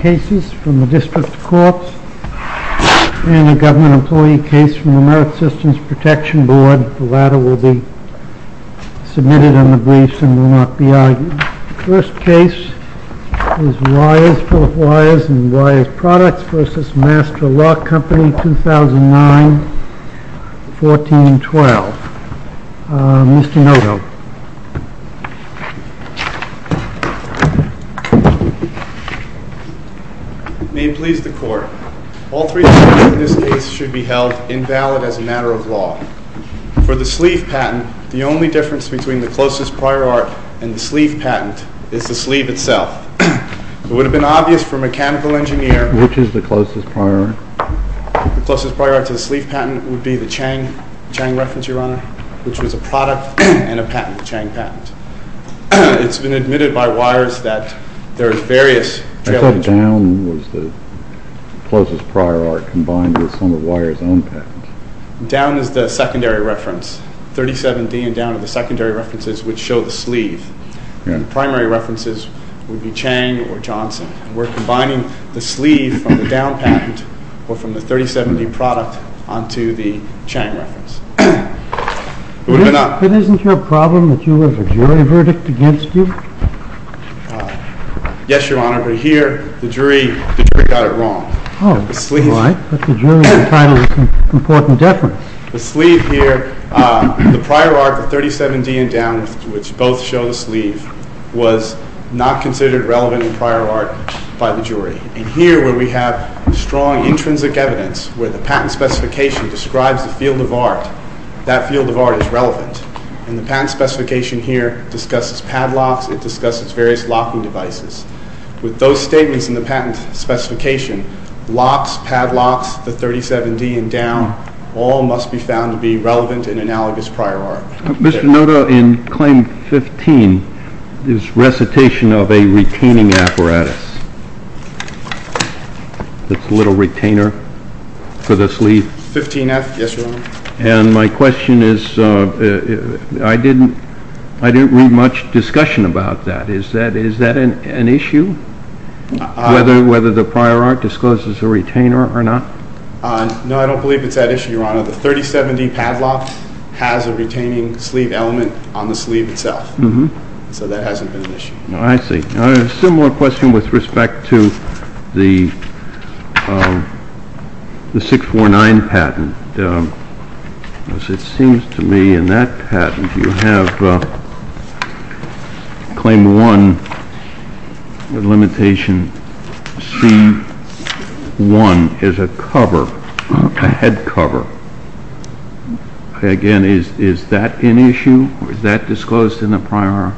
Cases from the District Courts and a Government Employee Case from the Merit Systems Protection Board. The latter will be submitted on the briefs and will not be argued. The first case is Wyers v. Master Lock Company, 2009-14-12. Mr. Noto. May it please the Court. All three cases in this case should be held invalid as a matter of law. For the sleeve patent, the only difference between the closest prior art and the sleeve patent is the sleeve itself. It would have been obvious for a mechanical engineer... Which is the closest prior art? The closest prior art to the sleeve patent would be the Chang reference, Your Honor, which was a product and a patent, a Chang patent. It's been admitted by Wyers that there are various... I thought down was the closest prior art combined with some of Wyers' own patents. Down is the secondary reference. 37D and down are the secondary references which show the sleeve. The primary references would be Chang or Johnson. We're combining the sleeve from the down patent or from the 37D product onto the Chang reference. But isn't your problem that you have a jury verdict against you? Yes, Your Honor, but here the jury got it wrong. Oh, why? But the jury's entitled to important deference. The sleeve here, the prior art, the 37D and down, which both show the sleeve, was not considered relevant in prior art by the jury. And here where we have strong intrinsic evidence, where the patent specification describes the field of art, that field of art is relevant. And the patent specification here discusses padlocks, it discusses various locking devices. With those statements in the patent specification, locks, padlocks, the 37D and down, all must be found to be relevant and analogous prior art. Mr. Noto, in claim 15, there's recitation of a retaining apparatus. It's a little retainer for the sleeve. 15F, yes, Your Honor. And my question is, I didn't read much discussion about that. Is that an issue? Whether the prior art discloses the retainer or not? No, I don't believe it's that issue, Your Honor. The 37D padlock has a retaining sleeve element on the sleeve itself. So that hasn't been an issue. I see. A similar question with respect to the 649 patent. It seems to me in that patent, you have claim 1 with limitation C1 is a cover, a head cover. Again, is that an issue? Is that disclosed in the prior art?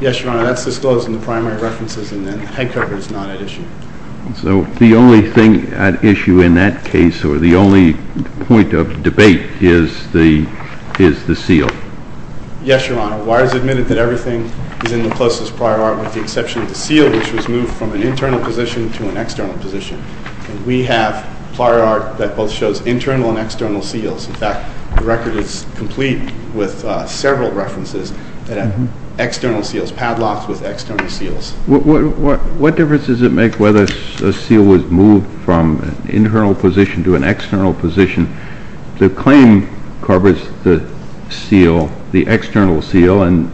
Yes, Your Honor, that's disclosed in the primary references and the head cover is not at issue. So the only thing at issue in that case or the only point of debate is the seal? Yes, Your Honor. Why is it admitted that everything is in the closest prior art with the exception of the seal, which was moved from an internal position to an external position? We have prior art that both shows internal and external seals. In fact, the record is complete with several references that have external seals, padlocks with external seals. What difference does it make whether a seal was moved from an internal position to an external position? The claim covers the seal, the external seal, and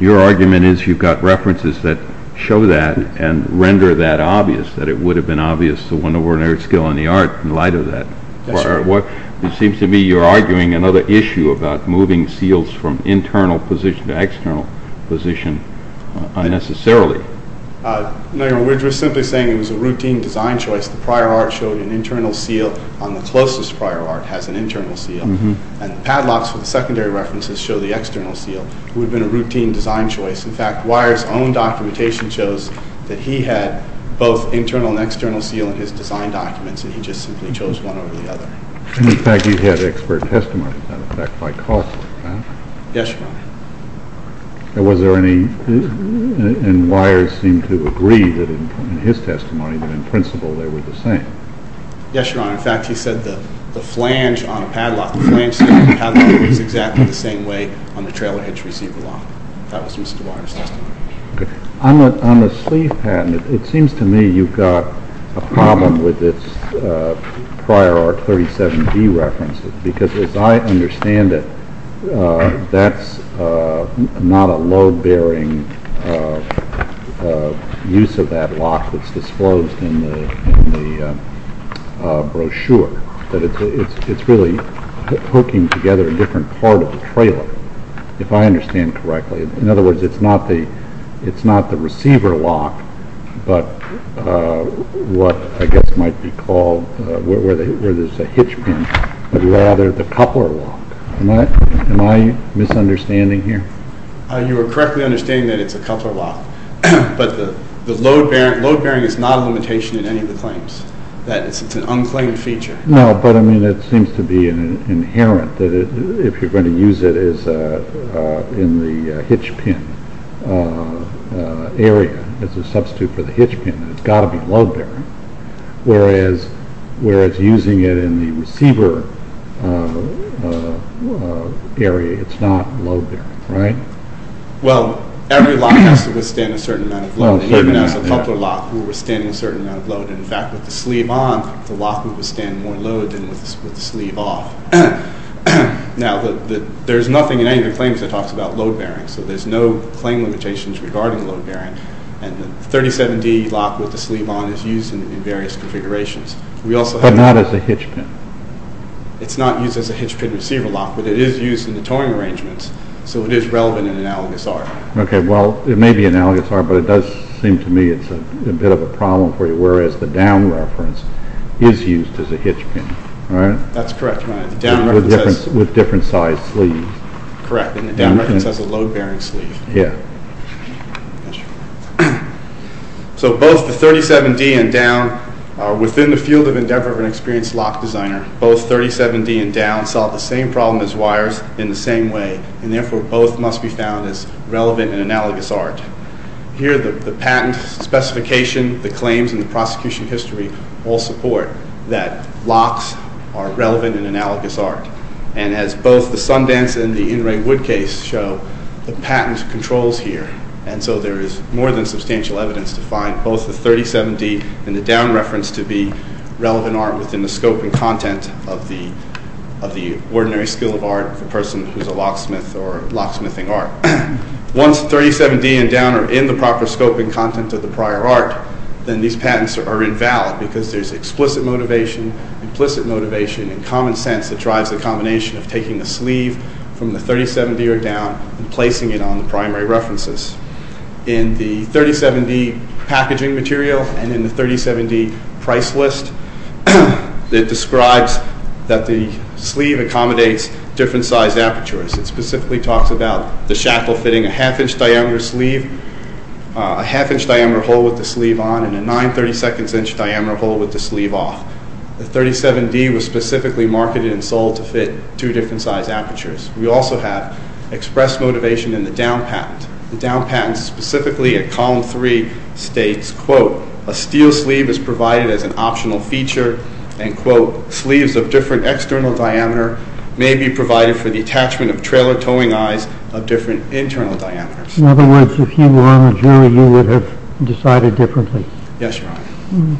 your argument is you've got references that show that and render that obvious, that it would have been obvious the one over in Erzgell in the art in light of that. Yes, sir. It seems to me you're arguing another issue about moving seals from internal position to external position unnecessarily. No, Your Honor, we're just simply saying it was a routine design choice. The prior art showed an internal seal on the closest prior art has an internal seal and the padlocks for the secondary references show the external seal. It would have been a routine design choice. In fact, Weyer's own documentation shows that he had both internal and external seal in his design documents and he just simply chose one over the other. And, in fact, you had expert testimony of that effect by Cawthorne, right? Yes, Your Honor. And Weyer seemed to agree that in his testimony that in principle they were the same. Yes, Your Honor. In fact, he said the flange on a padlock, the flange seal on a padlock, was exactly the same way on the trailer hitch receipt below. That was Mr. Weyer's testimony. On the sleeve pad, it seems to me you've got a problem with its prior art 37D references because, as I understand it, that's not a load-bearing use of that lock that's disclosed in the brochure. It's really hooking together a different part of the trailer, if I understand correctly. In other words, it's not the receiver lock, but what I guess might be called, where there's a hitch pin, but rather the coupler lock. Am I misunderstanding here? You are correctly understanding that it's a coupler lock. But the load-bearing is not a limitation in any of the claims. It's an unclaimed feature. No, but it seems to be inherent that if you're going to use it in the hitch pin area, as a substitute for the hitch pin, it's got to be load-bearing, whereas using it in the receiver area, it's not load-bearing, right? Well, every lock has to withstand a certain amount of load. Even as a coupler lock, we're withstanding a certain amount of load. In fact, with the sleeve on, the lock would withstand more load than with the sleeve off. Now, there's nothing in any of the claims that talks about load-bearing, so there's no claim limitations regarding load-bearing, and the 37D lock with the sleeve on is used in various configurations. But not as a hitch pin? It's not used as a hitch pin receiver lock, but it is used in the towing arrangements, so it is relevant in analogous art. Okay, well, it may be analogous art, but it does seem to me it's a bit of a problem for you, whereas the down reference is used as a hitch pin, right? That's correct. With different size sleeves. Correct, and the down reference has a load-bearing sleeve. Yeah. So both the 37D and down are within the field of endeavor of an experienced lock designer. Both 37D and down solve the same problem as wires in the same way, and therefore both must be found as relevant and analogous art. Here the patent specification, the claims, and the prosecution history all support that locks are relevant and analogous art, and as both the Sundance and the In Re Wood case show, the patent controls here, and so there is more than substantial evidence to find both the 37D and the down reference to be relevant art within the scope and content of the ordinary skill of art, the person who's a locksmith or locksmithing art. Once the 37D and down are in the proper scope and content of the prior art, then these patents are invalid because there's explicit motivation, implicit motivation, and common sense that drives the combination of taking the sleeve from the 37D or down and placing it on the primary references. In the 37D packaging material and in the 37D price list, it describes that the sleeve accommodates different size apertures. It specifically talks about the shackle fitting a half-inch diameter sleeve, a half-inch diameter hole with the sleeve on, and a nine-thirty-seconds-inch diameter hole with the sleeve off. The 37D was specifically marketed and sold to fit two different size apertures. We also have expressed motivation in the down patent. The down patent specifically at column three states, quote, a steel sleeve is provided as an optional feature, and quote, sleeves of different external diameter may be provided for the attachment of trailer towing eyes of different internal diameters. In other words, if you were on a jury, you would have decided differently. Yes, Your Honor.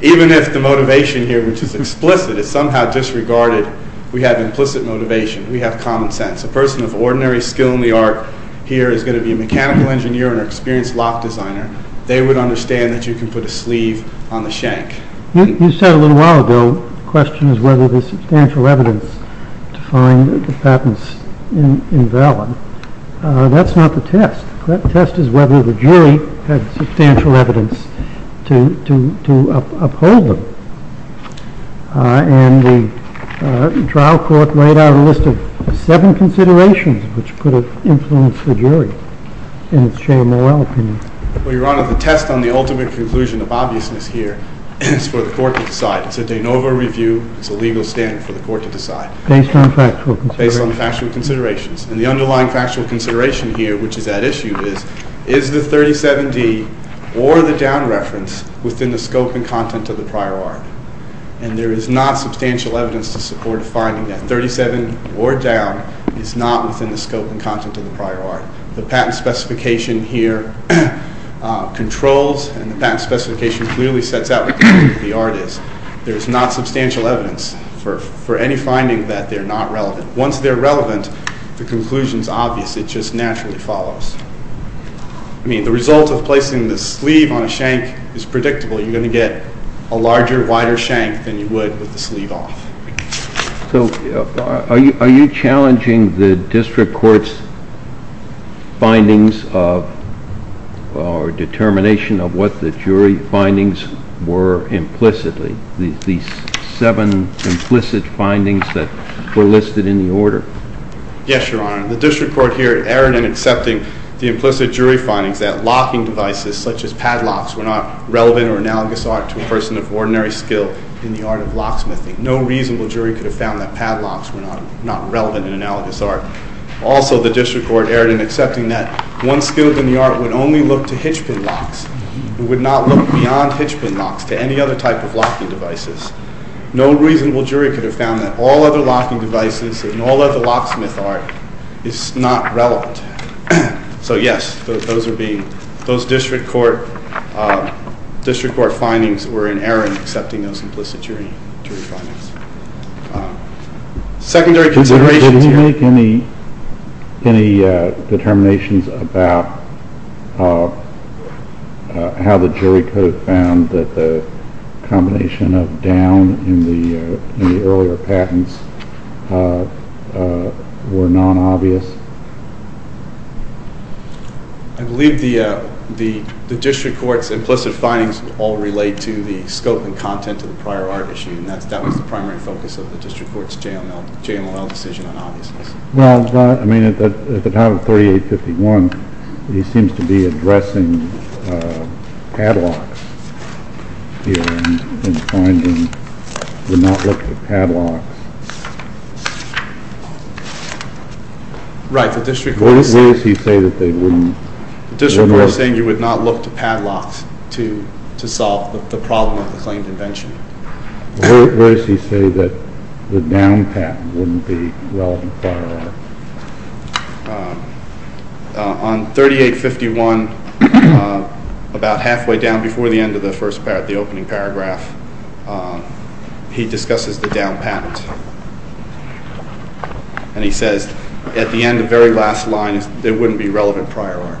Even if the motivation here, which is explicit, is somehow disregarded, we have implicit motivation, we have common sense. A person of ordinary skill in the art here is going to be a mechanical engineer and an experienced lock designer. They would understand that you can put a sleeve on the shank. You said a little while ago, the question is whether there is substantial evidence to find the patents invalid. That's not the test. The test is whether the jury has substantial evidence to uphold them. And the trial court laid out a list of seven considerations which could have influenced the jury in its Shea-Morrell opinion. Well, Your Honor, the test on the ultimate conclusion of obviousness here is for the court to decide. It's a de novo review. It's a legal standard for the court to decide. Based on factual considerations. Based on factual considerations. And the underlying factual consideration here, which is at issue, is, is the 37D or the down reference within the scope and content of the prior art? And there is not substantial evidence to support a finding that 37 or down is not within the scope and content of the prior art. The patent specification here controls and the patent specification clearly sets out what the art is. There is not substantial evidence for any finding that they're not relevant. Once they're relevant, the conclusion is obvious. It just naturally follows. I mean, the result of placing the sleeve on a shank is predictable. You're going to get a larger, wider shank than you would with the sleeve off. So, are you challenging the district court's findings of, or determination of what the jury findings were implicitly? These seven implicit findings that were listed in the order. Yes, Your Honor. The district court here erred in accepting the implicit jury findings that locking devices, such as padlocks, were not relevant or analogous art to a person of ordinary skill in the art of locksmithing. No reasonable jury could have found that padlocks were not relevant and analogous art. Also, the district court erred in accepting that one skilled in the art would only look to hitch pin locks. It would not look beyond hitch pin locks to any other type of locking devices. No reasonable jury could have found that all other locking devices and all other locksmith art is not relevant. So, yes, those district court findings were in error in accepting those implicit jury findings. Secondary considerations here. Did you make any determinations about how the jury could have found that the combination of down in the earlier patents were non-obvious? I believe the district court's implicit findings all relate to the scope and content of the prior art issue, and that was the primary focus of the district court's JMLL decision on obviousness. Well, I mean, at the time of 3851, he seems to be addressing padlocks here and finding it would not look to padlocks. Right. The district court is saying you would not look to padlocks to solve the problem of the claimed invention. Where does he say that the down patent wouldn't be relevant prior art? On 3851, about halfway down before the end of the first part, the opening paragraph, he discusses the down patent. And he says at the end, the very last line, it wouldn't be relevant prior art.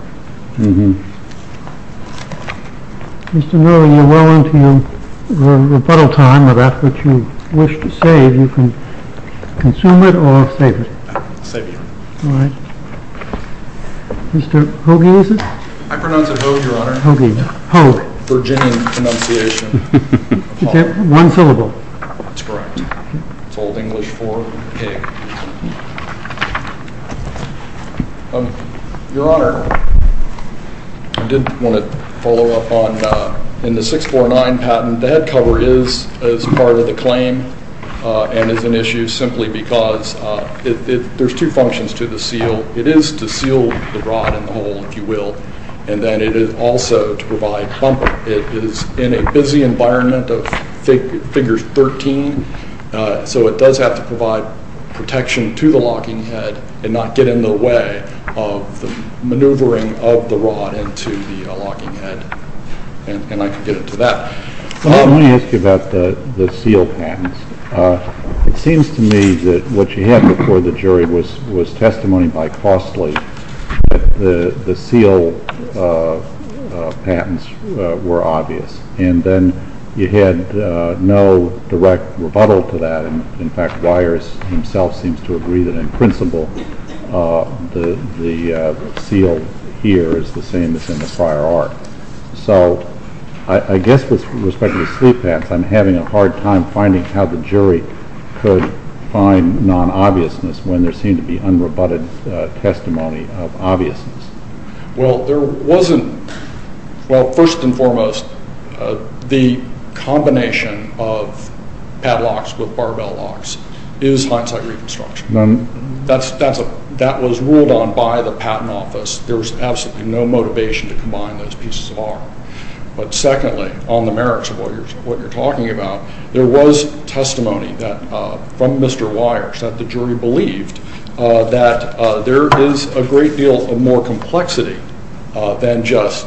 Mr. Miller, you're well into your rebuttal time. If that's what you wish to say, you can consume it or save it. All right. Mr. Hoge, is it? I pronounce it Hoge, Your Honor. Hoge. Hoge. Virginian pronunciation. One syllable. That's correct. It's Old English for pig. Your Honor, I did want to follow up on, in the 649 patent, the head cover is as part of the claim and is an issue simply because there's two functions to the seal. It is to seal the rod in the hole, if you will. And then it is also to provide bumper. It is in a busy environment of figures 13, so it does have to provide protection to the locking head and not get in the way of the maneuvering of the rod into the locking head. And I can get into that. Well, let me ask you about the seal patents. It seems to me that what you had before the jury was testimony by Costley that the seal patents were obvious. And then you had no direct rebuttal to that. In fact, Weyers himself seems to agree that, in principle, the seal here is the same as in the prior art. So I guess with respect to the seal patents, I'm having a hard time finding how the jury could find non-obviousness when there seemed to be unrebutted testimony of obviousness. Well, first and foremost, the combination of padlocks with barbell locks is hindsight reconstruction. That was ruled on by the Patent Office. There was absolutely no motivation to combine those pieces of art. But secondly, on the merits of what you're talking about, there was testimony from Mr. Weyers that the jury believed that there is a great deal of more complexity than just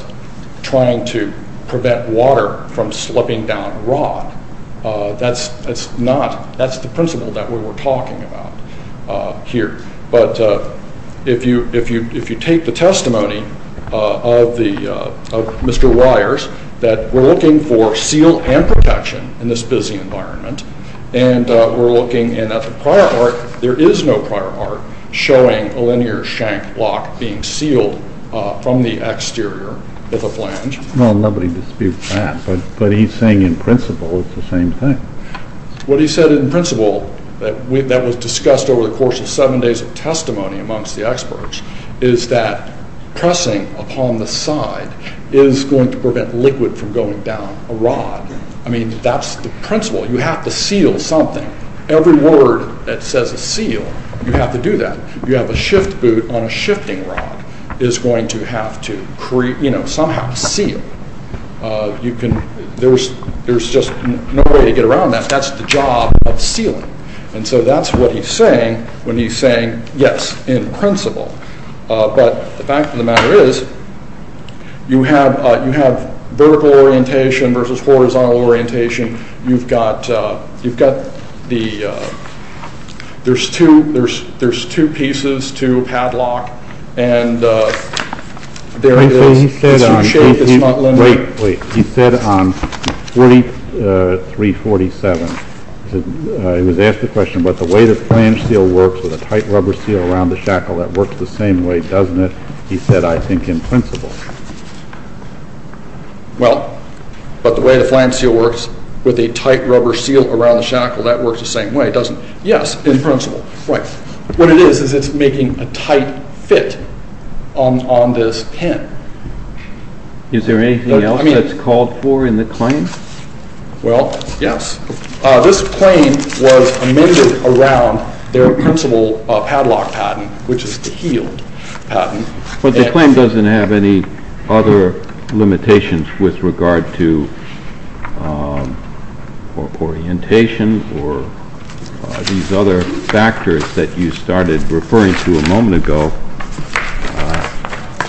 trying to prevent water from slipping down a rod. That's the principle that we were talking about here. But if you take the testimony of Mr. Weyers, that we're looking for seal and protection in this busy environment, and we're looking at the prior art, there is no prior art showing a linear shank lock being sealed from the exterior with a flange. Well, nobody disputes that, but he's saying in principle it's the same thing. What he said in principle that was discussed over the course of seven days of testimony amongst the experts is that pressing upon the side is going to prevent liquid from going down a rod. I mean, that's the principle. You have to seal something. Every word that says a seal, you have to do that. You have a shift boot on a shifting rod is going to have to somehow seal. There's just no way to get around that. That's the job of sealing. And so that's what he's saying when he's saying yes, in principle. But the fact of the matter is you have vertical orientation versus horizontal orientation. You've got the – there's two pieces to a padlock, and there it is. Wait, wait. He said on 347, he was asked the question, but the way the flange seal works with a tight rubber seal around the shackle, that works the same way, doesn't it? He said, I think, in principle. Well, but the way the flange seal works with a tight rubber seal around the shackle, that works the same way, doesn't it? Yes, in principle. Right. What it is, is it's making a tight fit on this pin. Is there anything else that's called for in the claim? Well, yes. This claim was amended around their principle padlock patent, which is the heel patent. But the claim doesn't have any other limitations with regard to orientation or these other factors that you started referring to a moment ago.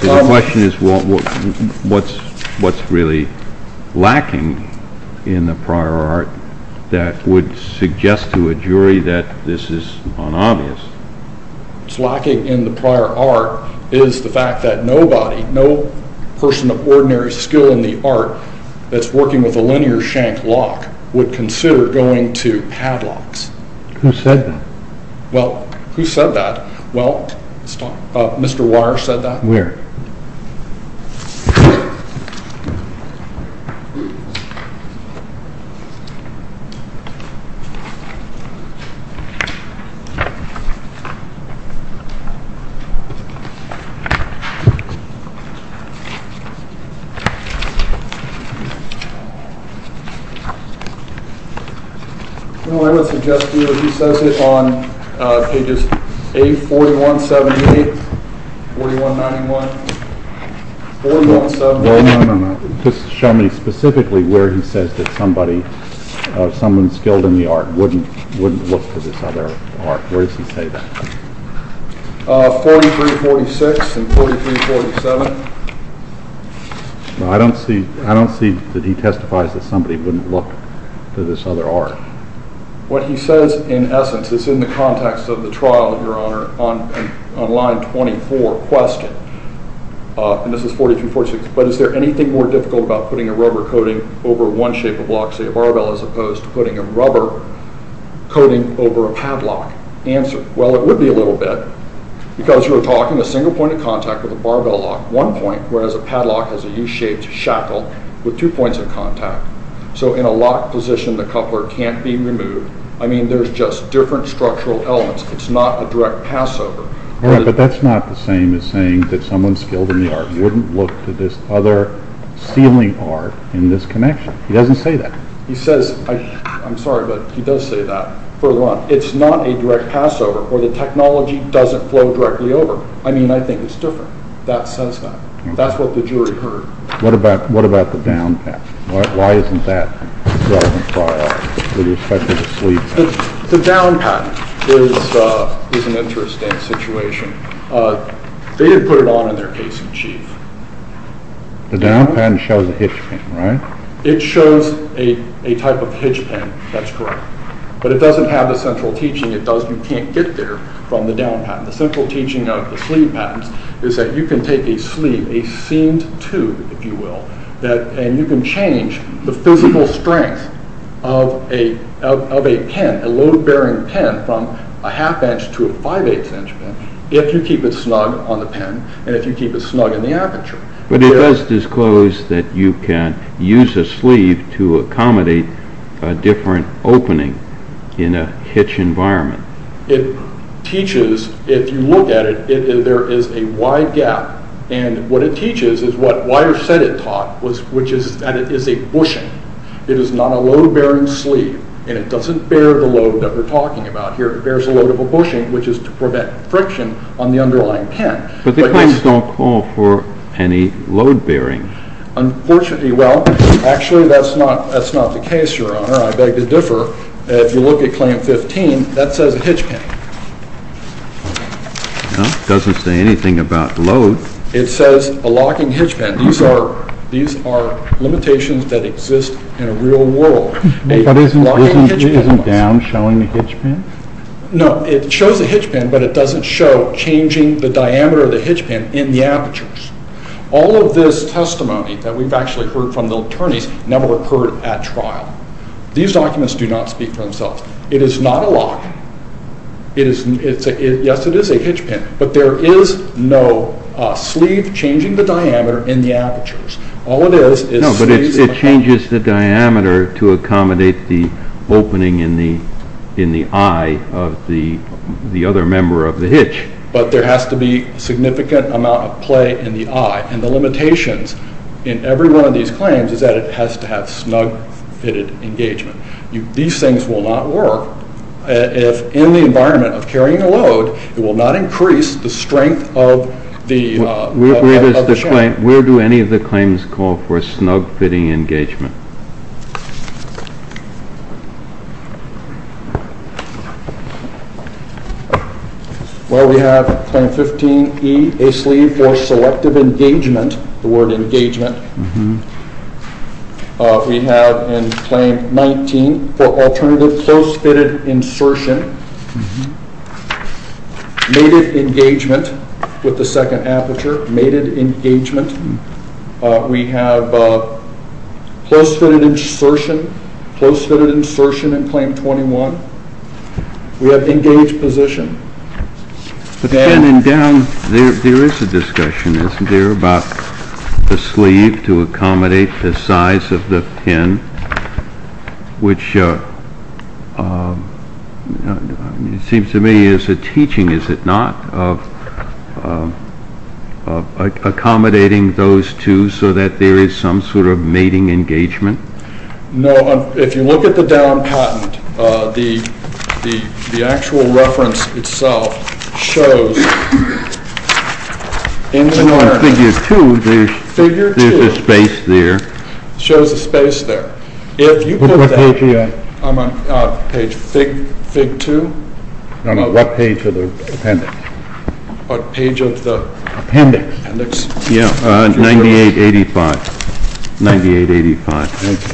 So the question is, what's really lacking in the prior art that would suggest to a jury that this is unobvious? What's lacking in the prior art is the fact that nobody, no person of ordinary skill in the art that's working with a linear shank lock would consider going to padlocks. Who said that? Well, who said that? Well, Mr. Wire said that. Where? Well, I would suggest to you that he says it on pages 841-78, 4191, 4178. Just show me specifically where he says that somebody, someone skilled in the art wouldn't look to this other art. Where does he say that? 4346 and 4347. I don't see that he testifies that somebody wouldn't look to this other art. What he says in essence is in the context of the trial, Your Honor, on line 24 question. And this is 4346. But is there anything more difficult about putting a rubber coating over one shape of lock, say a barbell, as opposed to putting a rubber coating over a padlock? Answer. Well, it would be a little bit. Because you're talking a single point of contact with a barbell lock, one point, whereas a padlock has a U-shaped shackle with two points of contact. So in a locked position, the coupler can't be removed. I mean, there's just different structural elements. It's not a direct pass over. But that's not the same as saying that someone skilled in the art wouldn't look to this other ceiling art in this connection. He doesn't say that. He says, I'm sorry, but he does say that. Further on, it's not a direct pass over, or the technology doesn't flow directly over. I mean, I think it's different. That says that. That's what the jury heard. What about the down patch? Why isn't that relevant for the respective sleeve? The down patch is an interesting situation. They didn't put it on in their case in chief. The down patch shows a hitch pin, right? It shows a type of hitch pin. That's correct. But it doesn't have a central teaching. You can't get there from the down patch. The central teaching of the sleeve patch is that you can take a sleeve, a seamed tube, if you will, and you can change the physical strength of a pin, a load-bearing pin from a half inch to a five-eighths inch pin, if you keep it snug on the pin and if you keep it snug in the aperture. But it does disclose that you can use a sleeve to accommodate a different opening in a hitch environment. It teaches, if you look at it, there is a wide gap. And what it teaches is what Wyer said it taught, which is that it is a bushing. It is not a load-bearing sleeve, and it doesn't bear the load that we're talking about here. It bears a load of a bushing, which is to prevent friction on the underlying pin. But the claims don't call for any load-bearing. Unfortunately, well, actually that's not the case, Your Honor. I beg to differ. If you look at Claim 15, that says a hitch pin. Well, it doesn't say anything about load. It says a locking hitch pin. These are limitations that exist in a real world. But isn't down showing a hitch pin? No, it shows a hitch pin, but it doesn't show changing the diameter of the hitch pin in the apertures. All of this testimony that we've actually heard from the attorneys never occurred at trial. These documents do not speak for themselves. It is not a lock. Yes, it is a hitch pin, but there is no sleeve changing the diameter in the apertures. No, but it changes the diameter to accommodate the opening in the eye of the other member of the hitch. But there has to be a significant amount of play in the eye, and the limitations in every one of these claims is that it has to have snug-fitted engagement. These things will not work. If in the environment of carrying a load, it will not increase the strength of the chain. Where do any of the claims call for snug-fitting engagement? Well, we have Claim 15E, a sleeve for selective engagement, the word engagement. We have in Claim 19 for alternative close-fitted insertion, mated engagement with the second aperture, mated engagement. We have close-fitted insertion, close-fitted insertion in Claim 21. We have engaged position. There is a discussion, isn't there, about the sleeve to accommodate the size of the pin, which seems to me is a teaching, is it not, of accommodating those two so that there is some sort of mating engagement? No, if you look at the down patent, the actual reference itself shows in the reference. In Figure 2, there is a space there. It shows a space there. What page are you on? I'm on page Fig 2. No, no, what page of the appendix? What page of the appendix? 9885.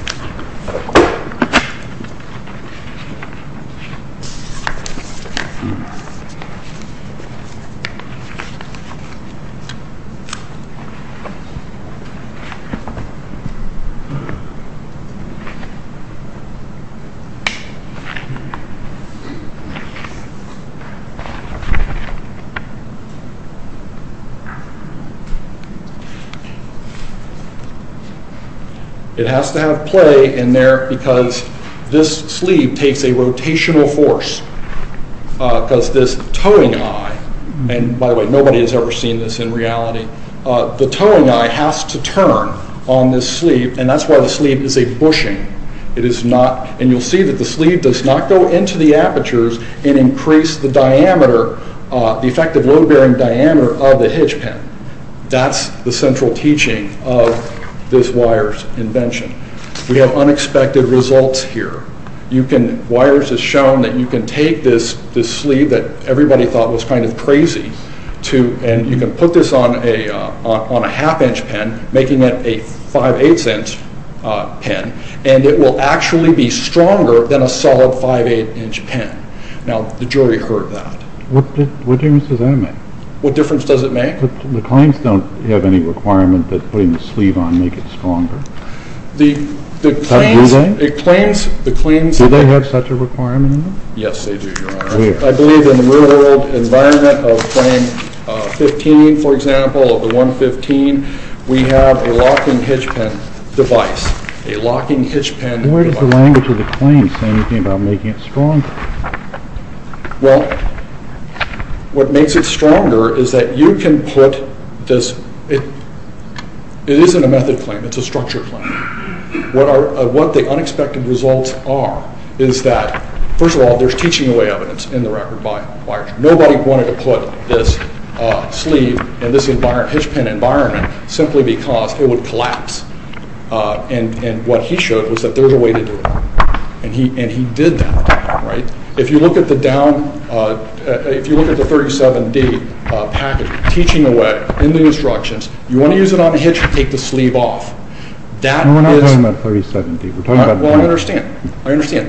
It has to have play in there because this sleeve takes a rotational force because this towing eye, and by the way, nobody has ever seen this in reality, the towing eye has to turn on this sleeve, and that's why the sleeve is a bushing. It is not, and you'll see that the sleeve does not go into the apertures and increase the diameter, the effective load-bearing diameter of the hitch pin. That's the central teaching of this wires invention. We have unexpected results here. Wires has shown that you can take this sleeve that everybody thought was kind of crazy and you can put this on a half-inch pin, making it a five-eighths inch pin, and it will actually be stronger than a solid five-eighths inch pin. Now, the jury heard that. What difference does that make? What difference does it make? The claims don't have any requirement that putting the sleeve on make it stronger. Do they? Do they have such a requirement? Yes, they do, Your Honor. I believe in the real-world environment of claim 15, for example, of the 115, we have a locking hitch pin device, a locking hitch pin device. Where does the language of the claim say anything about making it stronger? Well, what makes it stronger is that you can put this. It isn't a method claim. It's a structure claim. What the unexpected results are is that, first of all, there's teaching away evidence in the record by wires. Nobody wanted to put this sleeve in this hitch pin environment simply because it would collapse. What he showed was that there was a way to do it, and he did that. If you look at the 37D package, teaching away in the instructions, you want to use it on a hitch and take the sleeve off. We're not talking about 37D. Well, I understand.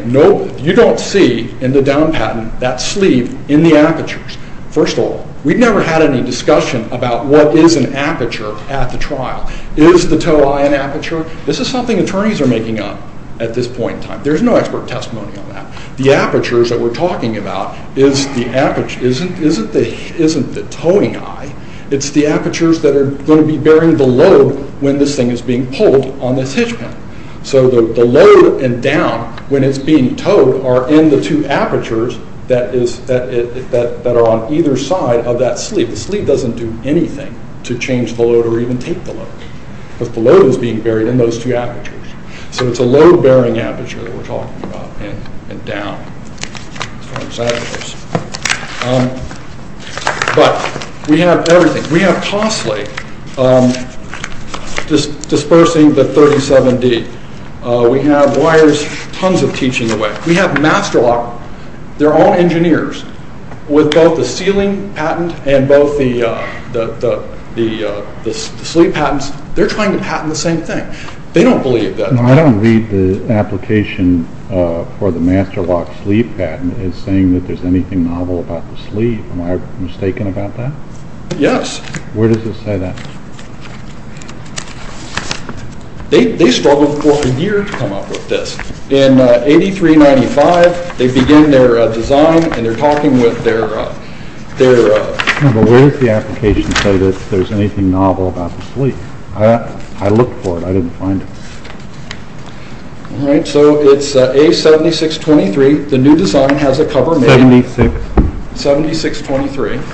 You don't see in the down patent that sleeve in the apertures. First of all, we've never had any discussion about what is an aperture at the trial. Is the toe eye an aperture? This is something attorneys are making up at this point in time. There's no expert testimony on that. The apertures that we're talking about isn't the toeing eye. It's the apertures that are going to be bearing the load when this thing is being pulled on this hitch pin. So the load and down, when it's being toed, are in the two apertures that are on either side of that sleeve. The sleeve doesn't do anything to change the load or even take the load because the load is being buried in those two apertures. So it's a load-bearing aperture that we're talking about and down. But we have everything. We have costly dispersing the 37D. We have wires tons of teaching away. We have Master Lock, their own engineers, with both the sealing patent and both the sleeve patents, they're trying to patent the same thing. They don't believe that. I don't read the application for the Master Lock sleeve patent as saying that there's anything novel about the sleeve. Am I mistaken about that? Yes. Where does it say that? They struggled for a year to come up with this. In 8395, they begin their design, and they're talking with their... No, but where does the application say that there's anything novel about the sleeve? I looked for it. I didn't find it. All right, so it's A7623. The new design has a cover made... 76... 7623. Okay.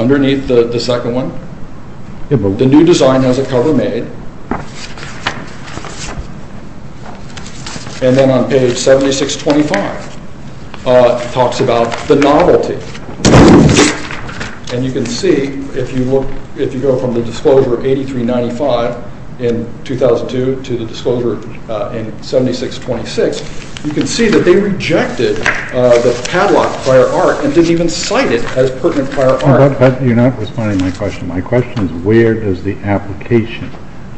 Underneath the second one, the new design has a cover made. And then on page 7625, it talks about the novelty. And you can see, if you go from the disclosure of 8395 in 2002 to the disclosure in 7626, you can see that they rejected the padlock prior art and didn't even cite it as pertinent prior art. You're not responding to my question. My question is, where does the application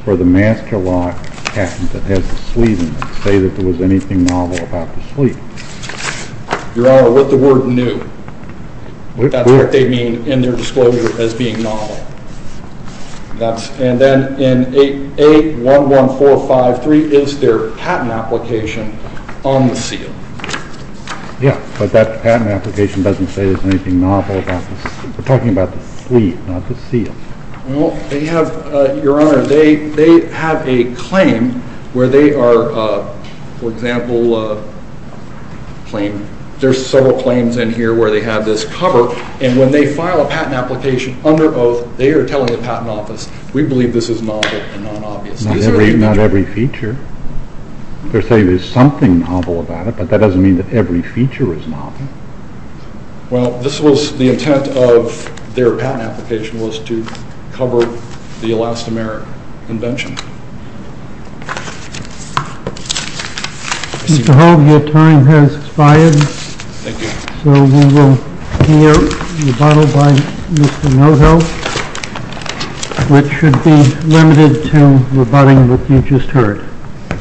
for the Master Lock patent that has the sleeve in it say that there was anything novel about the sleeve? Your Honor, with the word new. That's what they mean in their disclosure as being novel. And then in A11453 is their patent application on the seal. Yeah, but that patent application doesn't say there's anything novel about the sleeve. We're talking about the sleeve, not the seal. Well, they have, Your Honor, they have a claim where they are, for example, there's several claims in here where they have this cover, and when they file a patent application under oath, they are telling the Patent Office, we believe this is novel and non-obvious. Not every feature. They're saying there's something novel about it, but that doesn't mean that every feature is novel. Well, this was the intent of their patent application was to cover the elastomeric invention. Mr. Hogue, your time has expired. Thank you. So we will hear a rebuttal by Mr. Noho, which should be limited to rebutting what you just heard.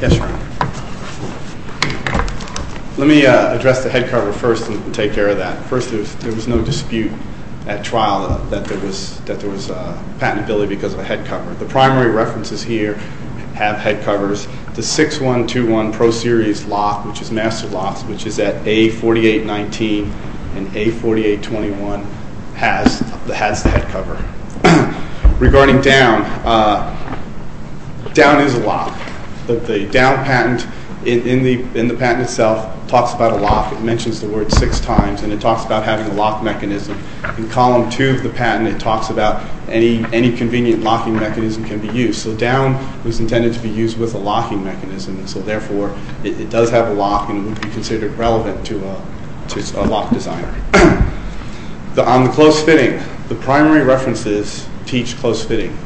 Yes, Your Honor. Let me address the head cover first and take care of that. First, there was no dispute at trial that there was patentability because of the head cover. The primary references here have head covers. The 6-1-2-1 Pro Series Lock, which is Master Locks, which is at A-48-19 and A-48-21, has the head cover. Regarding Down, Down is a lock. The Down patent, in the patent itself, talks about a lock. It mentions the word six times, and it talks about having a lock mechanism. In Column 2 of the patent, it talks about any convenient locking mechanism can be used. So Down was intended to be used with a locking mechanism. Therefore, it does have a lock and would be considered relevant to a lock designer. On the close fitting, the primary references teach close fitting.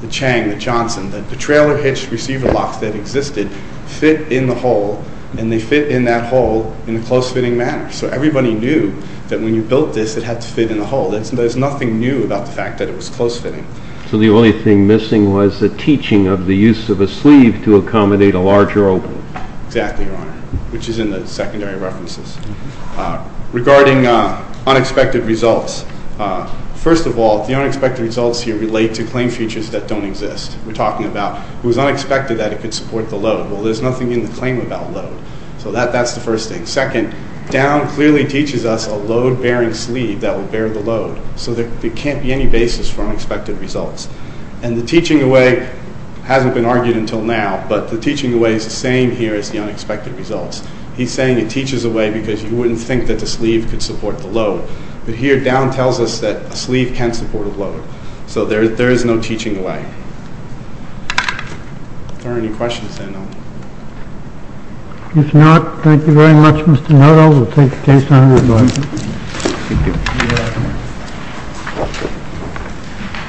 The Chang, the Johnson, the trailer hitch receiver locks that existed fit in the hole, and they fit in that hole in a close fitting manner. So everybody knew that when you built this, it had to fit in the hole. There's nothing new about the fact that it was close fitting. So the only thing missing was the teaching of the use of a sleeve to accommodate a larger opening. Exactly, Your Honor, which is in the secondary references. Regarding unexpected results, first of all, the unexpected results here relate to claim features that don't exist. We're talking about it was unexpected that it could support the load. Well, there's nothing in the claim about load. So that's the first thing. Second, Down clearly teaches us a load-bearing sleeve that would bear the load. So there can't be any basis for unexpected results. And the teaching away hasn't been argued until now, but the teaching away is the same here as the unexpected results. He's saying it teaches away because you wouldn't think that the sleeve could support the load. But here, Down tells us that a sleeve can support a load. So there is no teaching away. Are there any questions, then? If not, thank you very much, Mr. Nuttall. We'll take the case on the floor. Thank you. Thank you.